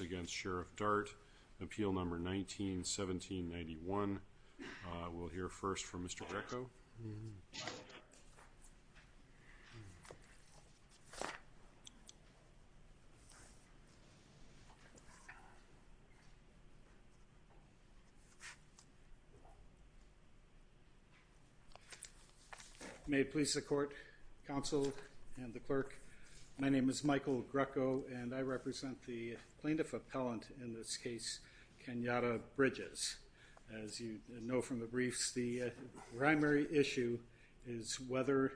against Sheriff Dart. Appeal number 19-1791. We'll hear first from Mr. Greco. May it please the court, counsel, and the clerk, my name is Michael Greco and I present the plaintiff appellant in this case, Kenyatta Bridges. As you know from the briefs, the primary issue is whether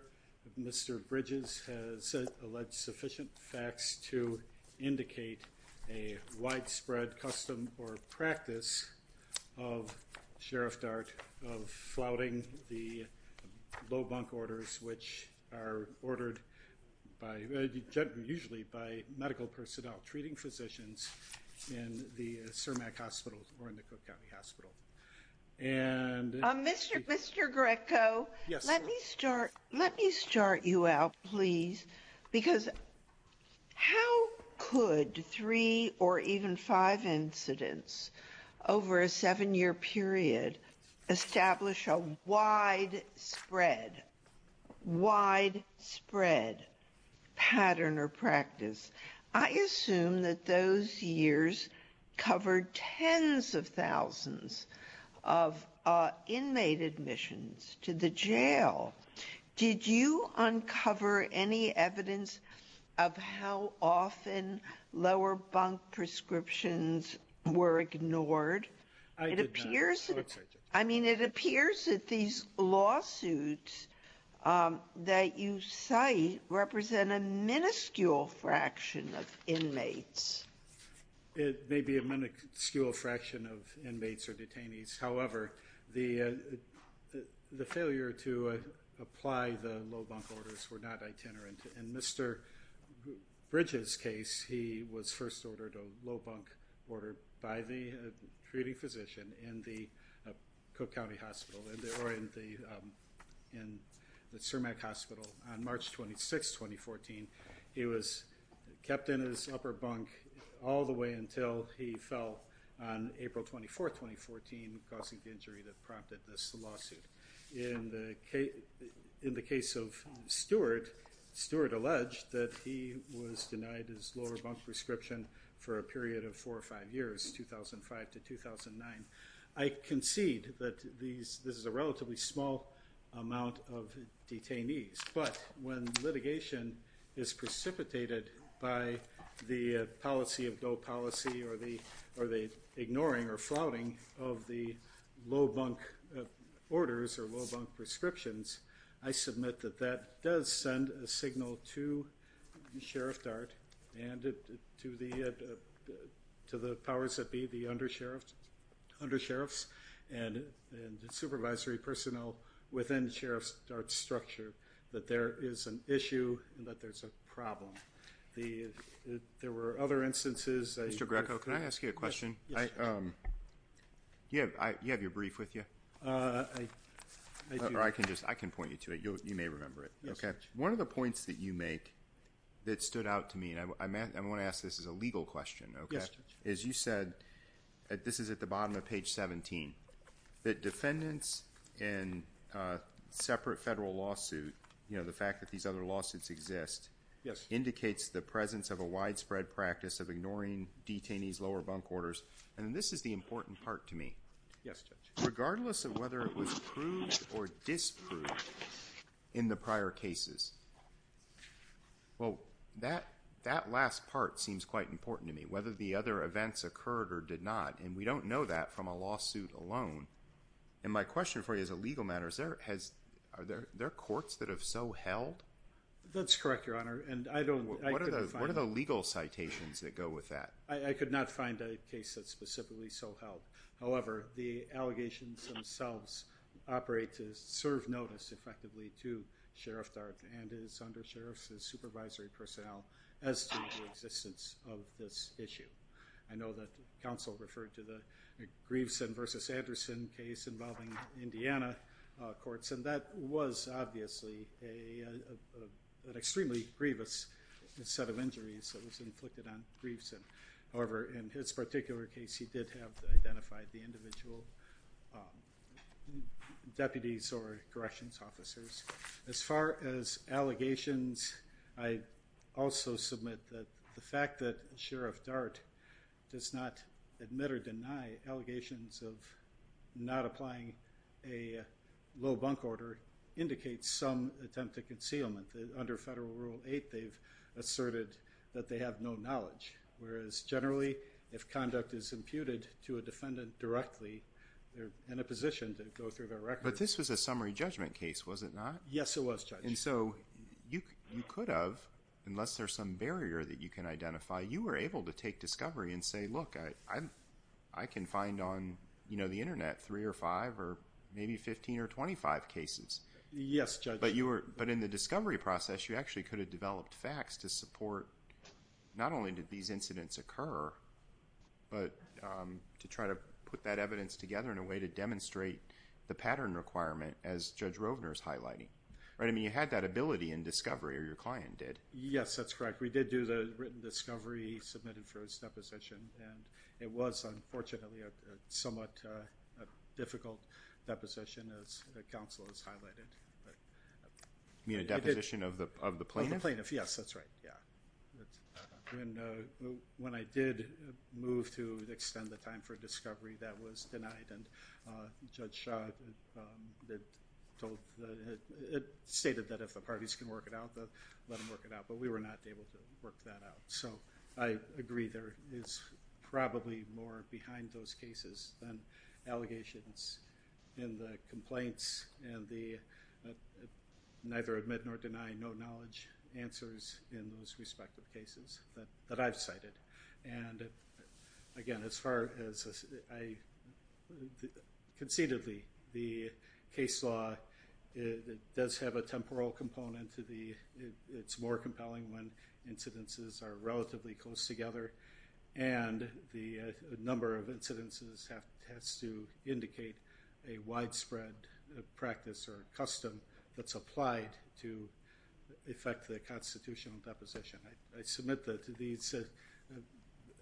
Mr. Bridges has alleged sufficient facts to indicate a widespread custom or practice of Sheriff Dart of flouting the low bunk orders which are ordered usually by medical personnel treating physicians in the Cermak hospitals or in the Cook County Hospital. Mr. Greco, let me start you out, please, because how could three or even five incidents over a seven-year period establish a widespread, widespread pattern or practice? I assume that those years covered tens of thousands of inmate admissions to the jail. Did you uncover any evidence of how often lower bunk prescriptions were ignored? I did not. I mean, it appears that these lawsuits that you cite represent a minuscule fraction of inmates. It may be a minuscule fraction of inmates or detainees, however, the failure to apply the low bunk orders were not itinerant. In Mr. Bridges' case, he was first ordered a low bunk order by the treating physician in the Cook County Hospital or in the Cermak Hospital on March 26, 2014. He was kept in his upper bunk all the way until he fell on April 24, 2014, causing the injury that prompted this lawsuit. In the case of Stewart, Stewart alleged that he was denied his lower bunk prescription for a period of four or five years, 2005 to 2009. I concede that this is a relatively small amount of detainees, but when litigation is precipitated by the policy of dull policy or the ignoring or flouting of the low bunk orders or low bunk prescriptions, I submit that that does send a signal to Sheriff Dart and to the powers that be, the under-sheriffs and the supervisory personnel within Sheriff Dart's structure that there is an issue and that there's a problem. There were other instances... Mr. Greco, can I ask you a question? Do you have your brief with you? I can point you to it. You may remember it. One of the points that you make that stood out to me, and I want to ask this as a legal question, is you said, this is at the bottom of page 17, that defendants in separate federal lawsuits, you know, the fact that these other lawsuits exist, indicates the presence of a lower bunk orders, and this is the important part to me. Regardless of whether it was proved or disproved in the prior cases, well, that last part seems quite important to me, whether the other events occurred or did not, and we don't know that from a lawsuit alone, and my question for you as a legal matter, are there courts that have so held? That's correct, Your Honor, and I What are the legal citations that go with that? I could not find a case that specifically so held. However, the allegations themselves operate to serve notice effectively to Sheriff Dart and his undersheriffs, his supervisory personnel, as to the existence of this issue. I know that counsel referred to the Grieveson versus Anderson case involving Indiana courts, and that was obviously an extremely grievous set of injuries that was inflicted on Grieveson. However, in his particular case, he did have identified the individual deputies or corrections officers. As far as allegations, I also submit that the fact that Sheriff Dart does not admit or deny allegations of not applying a low bunk order indicates some attempt to concealment. Under Federal Rule 8, they've asserted that they have no knowledge, whereas generally, if conduct is imputed to a defendant directly, they're in a position to go through their record. But this was a summary judgment case, was it not? Yes, it was, Judge. And so, you could have, unless there's some barrier that you can identify, you were able to take discovery and say, look, I can find on, you know, the Internet three or five or maybe 15 or 25 cases. Yes, Judge. But in the discovery process, you actually could have developed facts to support, not only did these incidents occur, but to try to put that evidence together in a way to demonstrate the pattern requirement, as Judge Rovner is highlighting. Right, I mean, you had that ability in discovery, or your client did. Yes, that's correct. We did do the written discovery, submitted for its deposition, and it was unfortunately a somewhat difficult deposition, as counsel has highlighted. You mean a deposition of the plaintiff? Yes, that's right, yeah. When I did move to extend the time for discovery, that was denied, and Judge Shaw stated that if the parties can work it out, let them work it out, but we were not able to work that out. So, I was probably more behind those cases than allegations in the complaints and the neither admit nor deny no knowledge answers in those respective cases that I've cited. And again, as far as I, concededly, the case law does have a temporal component to the, it's more compelling when incidences are relatively close together, and the number of incidences has to indicate a widespread practice or custom that's applied to affect the constitutional deposition. I submit that these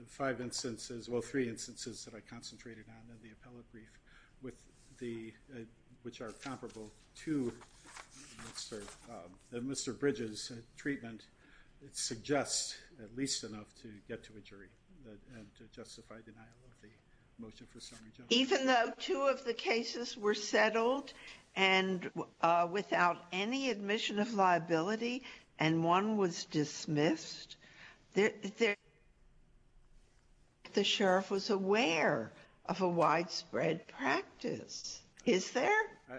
five instances, well, three instances that I concentrated on in the appellate brief, which are comparable to Mr. Bridges' treatment, it suggests at least enough to get to a jury and to justify denial of the motion for summary judgment. Even though two of the cases were settled and without any admission of liability, and one was dismissed, the sheriff was aware of a widespread practice. Is there?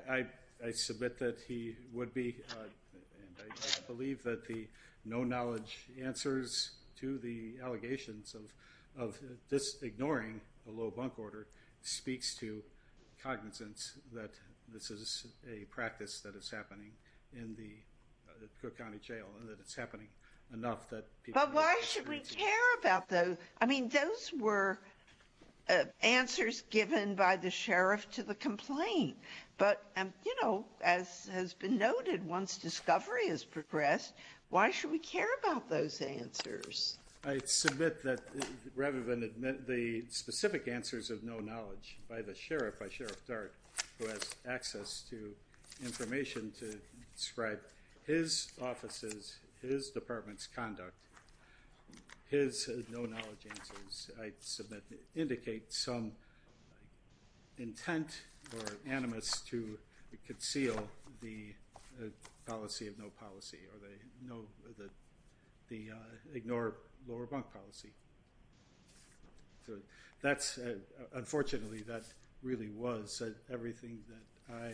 I submit that he would be, and I believe that the no knowledge answers to the allegations of this ignoring a low bunk order speaks to cognizance that this is a practice that is happening in the Cook County Jail, and that it's happening enough that people... But why should we care about those? I mean, those were answers given by the sheriff to the complaint, but, you know, as has been noted, once discovery has progressed, why should we care about those answers? I submit that rather than admit the specific answers of no knowledge by the sheriff, by Sheriff Dart, who has access to information to describe his offices, his indicates some intent or animus to conceal the policy of no policy, or they know that the ignore lower bunk policy. So that's, unfortunately, that really was everything that I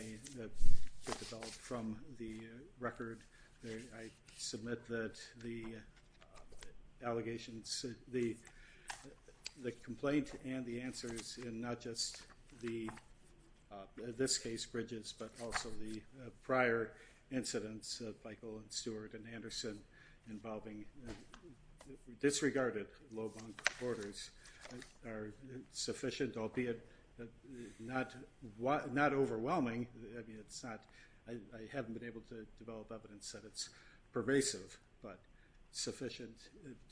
developed from the record. I submit that the allegations, the complaint, and the answers in not just the, in this case, Bridges, but also the prior incidents of Michael and Stuart and Anderson involving disregarded low bunk orders are sufficient, albeit not overwhelming. I mean, it's not, I haven't been able to develop evidence that it's pervasive, but sufficient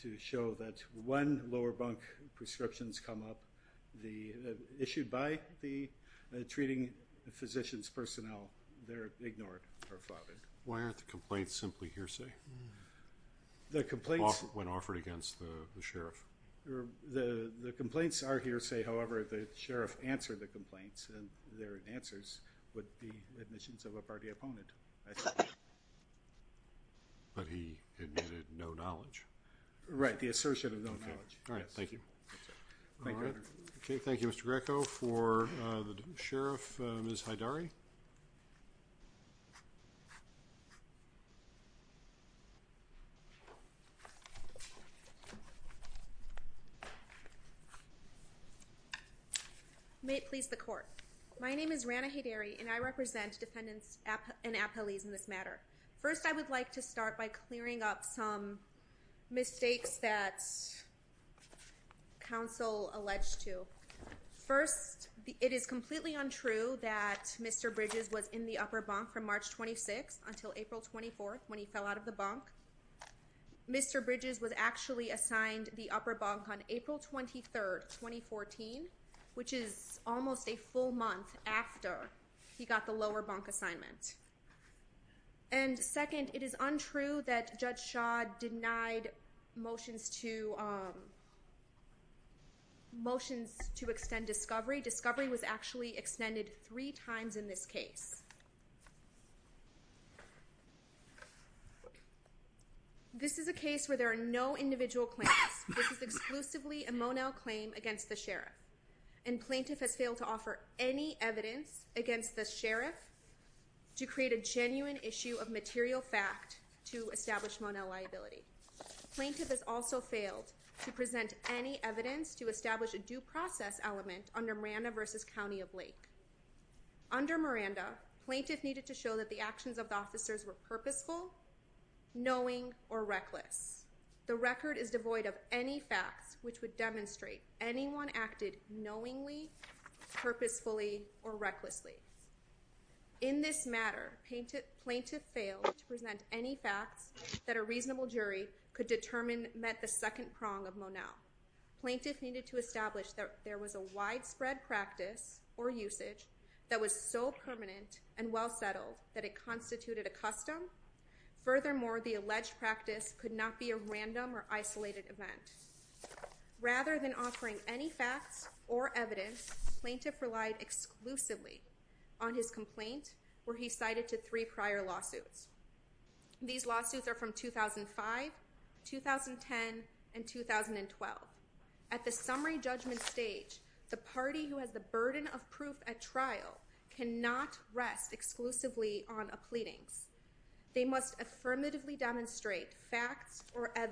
to show that when lower bunk prescriptions come up, the, issued by the treating physicians personnel, they're ignored or flouted. Why aren't the complaints simply hearsay? The complaints... When offered against the sheriff. The complaints are hearsay, however, the sheriff answered the complaints, and their answers would be no knowledge. Right. The assertion of no knowledge. All right. Thank you. Okay. Thank you, Mr. Greco. For the sheriff, Ms. Haidari. May it please the court. My name is Rana Haidari, and I represent defendants and appellees in this matter. First, I would like to start by clearing up some mistakes that counsel alleged to. First, it is completely untrue that Mr. Bridges was in the upper bunk from March 26 until April 24th when he fell out of the bunk. Mr. Bridges was actually assigned the upper bunk on April 23rd, 2014, which is almost a full month after he got the lower bunk assignment. And second, it is untrue that Judge Schaad denied motions to, motions to extend discovery. Discovery was actually extended three times in this case. This is a case where there are no individual claims. This is exclusively a Monell claim against the plaintiff has failed to offer any evidence against the sheriff to create a genuine issue of material fact to establish Monell liability. Plaintiff has also failed to present any evidence to establish a due process element under Miranda versus County of Lake. Under Miranda, plaintiff needed to show that the actions of the officers were purposeful, knowing, or reckless. The record is devoid of any facts which would demonstrate anyone acted knowingly purposefully or recklessly. In this matter, plaintiff failed to present any facts that a reasonable jury could determine met the second prong of Monell. Plaintiff needed to establish that there was a widespread practice or usage that was so permanent and well settled that it constituted a custom. Furthermore, the alleged practice could not be a random or isolated event. Rather than offering any facts or evidence, plaintiff relied exclusively on his complaint where he cited to three prior lawsuits. These lawsuits are from 2005, 2010 and 2012. At the summary judgment stage, the party who has the burden of proof at trial cannot rest exclusively on a pleadings. They must affirmatively demonstrate facts or has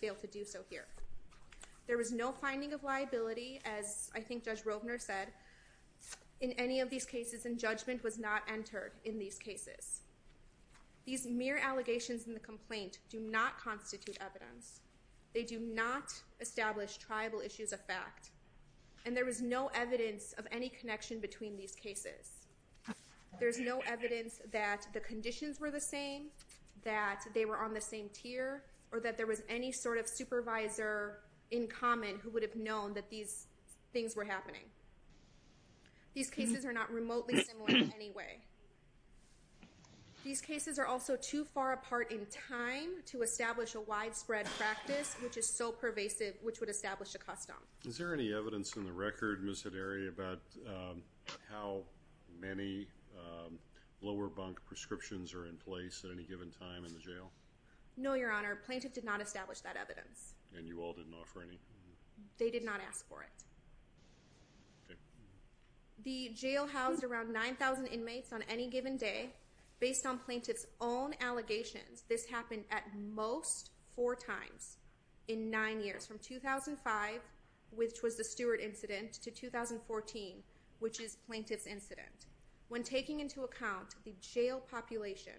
failed to do so here. There was no finding of liability, as I think Judge Robner said in any of these cases, and judgment was not entered in these cases. These mere allegations in the complaint do not constitute evidence. They do not establish tribal issues of fact, and there was no evidence of any connection between these cases. There's no evidence that the conditions were the same, that they were on the same tier, or that there was any sort of supervisor in common who would have known that these things were happening. These cases are not remotely similar in any way. These cases are also too far apart in time to establish a widespread practice, which is so pervasive, which would establish a custom. Is there any evidence in the record, Ms. Hedary, about how many lower rank prescriptions are in place at any given time in the jail? No, Your Honor. Plaintiff did not establish that evidence. And you all didn't offer any? They did not ask for it. The jail housed around 9,000 inmates on any given day. Based on plaintiff's own allegations, this happened at most four times in nine years, from 2005, which was the Stewart incident, to 2014, which is plaintiff's own. When taking into account the jail population,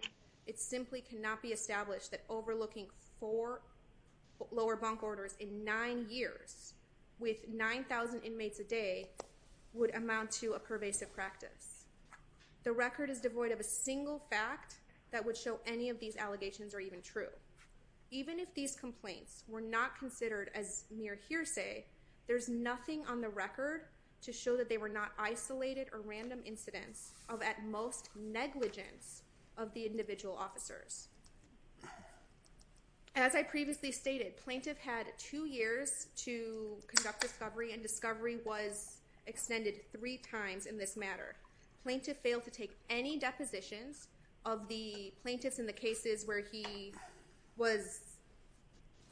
it simply cannot be established that overlooking four lower bunk orders in nine years, with 9,000 inmates a day, would amount to a pervasive practice. The record is devoid of a single fact that would show any of these allegations are even true. Even if these complaints were not considered as mere hearsay, there's nothing on the record that would show at most negligence of the individual officers. As I previously stated, plaintiff had two years to conduct discovery, and discovery was extended three times in this matter. Plaintiff failed to take any depositions of the plaintiffs in the cases where he was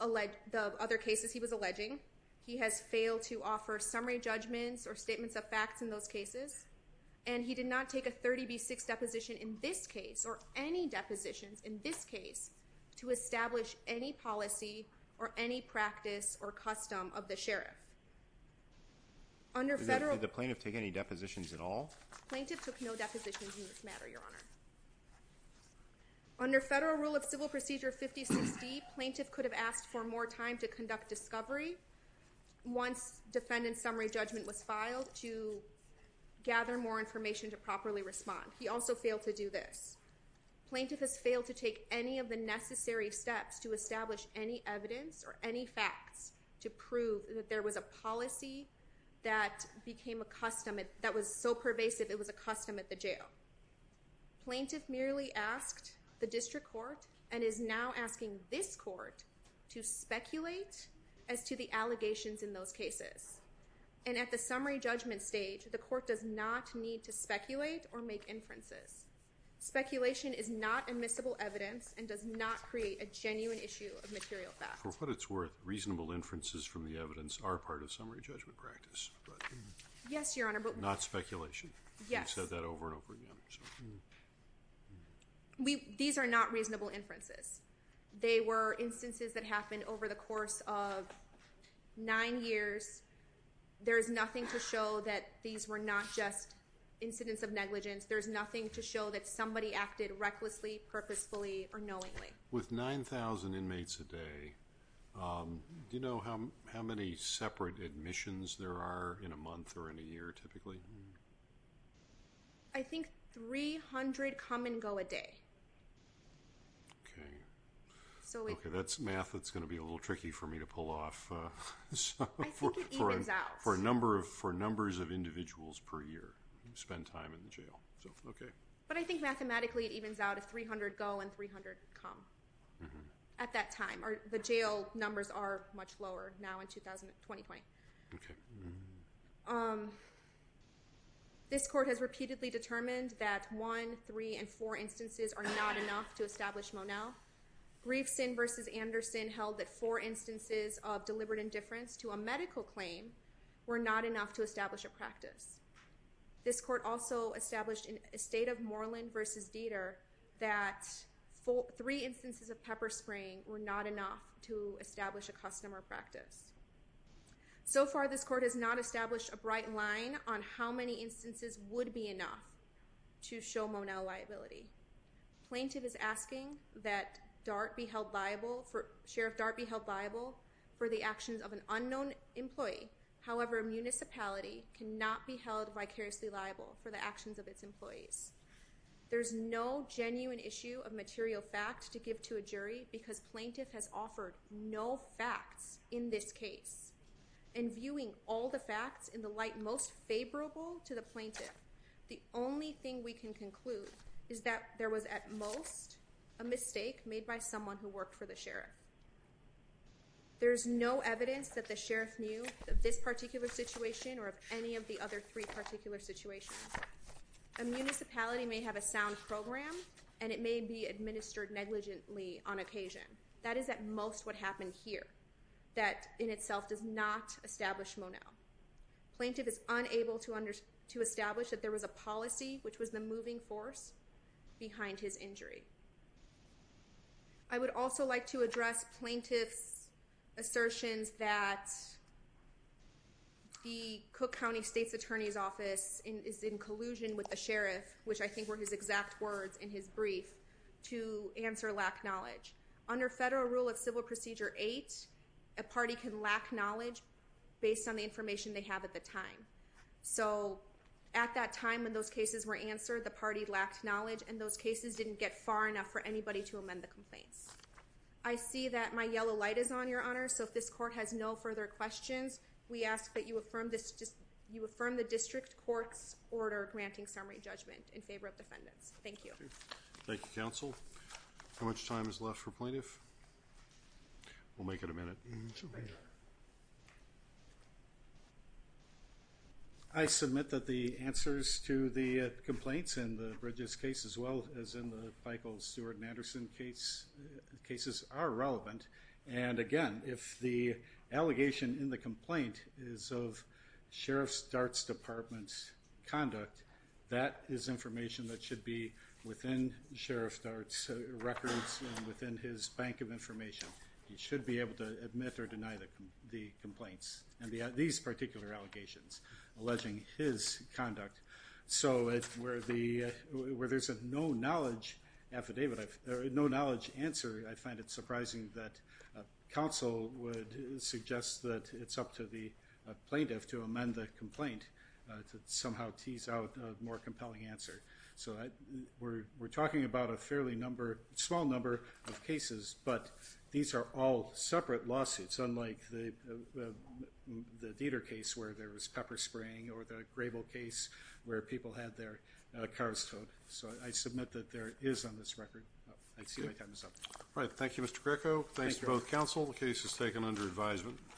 alleged, the other cases he was alleging. He has failed to offer summary judgments or statements of facts in those cases, and he did not take a 30B6 deposition in this case, or any depositions in this case, to establish any policy or any practice or custom of the sheriff. Did the plaintiff take any depositions at all? Plaintiff took no depositions in this matter, Your Honor. Under federal rule of civil procedure 5060, plaintiff could have asked for more time to conduct discovery once defendant's summary judgment was filed to gather more information to properly respond. He also failed to do this. Plaintiff has failed to take any of the necessary steps to establish any evidence or any facts to prove that there was a policy that became a custom, that was so pervasive it was a custom at the jail. Plaintiff merely asked the district court and is now asking this court to And at the summary judgment stage, the court does not need to speculate or make inferences. Speculation is not admissible evidence and does not create a genuine issue of material facts. For what it's worth, reasonable inferences from the evidence are part of summary judgment practice. Yes, Your Honor. But not speculation. Yes. We've said that over and over again. These are not reasonable inferences. They were instances that happened over the course of nine years. There's nothing to show that these were not just incidents of negligence. There's nothing to show that somebody acted recklessly, purposefully, or knowingly. With 9,000 inmates a day, do you know how many separate admissions there are in a That's math that's gonna be a little tricky for me to pull off for a number of for numbers of individuals per year you spend time in the jail so okay but I think mathematically it evens out a 300 go and 300 come at that time or the jail numbers are much lower now in 2020. This court has repeatedly determined that one three and four instances are not enough to establish Monel. Grieveson versus Anderson held that four instances of deliberate indifference to a medical claim were not enough to establish a practice. This court also established in a state of Moreland versus Dieter that three instances of pepper spraying were not enough to establish a customer practice. So far this court has not liability. Plaintiff is asking that Dart be held liable for Sheriff Dart be held liable for the actions of an unknown employee. However a municipality cannot be held vicariously liable for the actions of its employees. There's no genuine issue of material fact to give to a jury because plaintiff has offered no facts in this case and viewing all the facts in the light most favorable to the plaintiff the only thing we can conclude is that there was at most a mistake made by someone who worked for the sheriff. There's no evidence that the sheriff knew of this particular situation or of any of the other three particular situations. A municipality may have a sound program and it may be administered negligently on occasion. That is at most what happened here that in itself does not establish Moneau. Plaintiff is unable to understand to establish that there was a policy which was the moving force behind his injury. I would also like to address plaintiff's assertions that the Cook County State's Attorney's Office is in collusion with the sheriff which I think were his exact words in his brief to answer lack knowledge. Under federal rule of civil procedure eight a party can lack knowledge based on the information they have at the time. So at that time when those cases were answered the party lacked knowledge and those cases didn't get far enough for anybody to amend the complaints. I see that my yellow light is on your honor so if this court has no further questions we ask that you affirm this just you affirm the district courts order granting summary judgment in favor of defendants. Thank you. Thank you How much time is left for plaintiff? We'll make it a minute. I submit that the answers to the complaints in the Bridges case as well as in the Michael Stewart and Anderson case cases are relevant and again if the allegation in the complaint is of Sheriff's Darts Department's conduct that is information that should be within Sheriff's Darts records within his bank of information. He should be able to admit or deny that the complaints and these particular allegations alleging his conduct so it's where the where there's a no knowledge affidavit no knowledge answer I find it surprising that counsel would suggest that it's up to the plaintiff to amend the complaint to somehow tease out a more compelling answer so I we're we're talking about a fairly number small number of cases but these are all separate lawsuits unlike the Dieter case where there was pepper spraying or the Grable case where people had their cars towed so I submit that there is on this record. I see my time is up. All right thank you Mr. Greco. Thanks to both counsel the case is taken under advisement.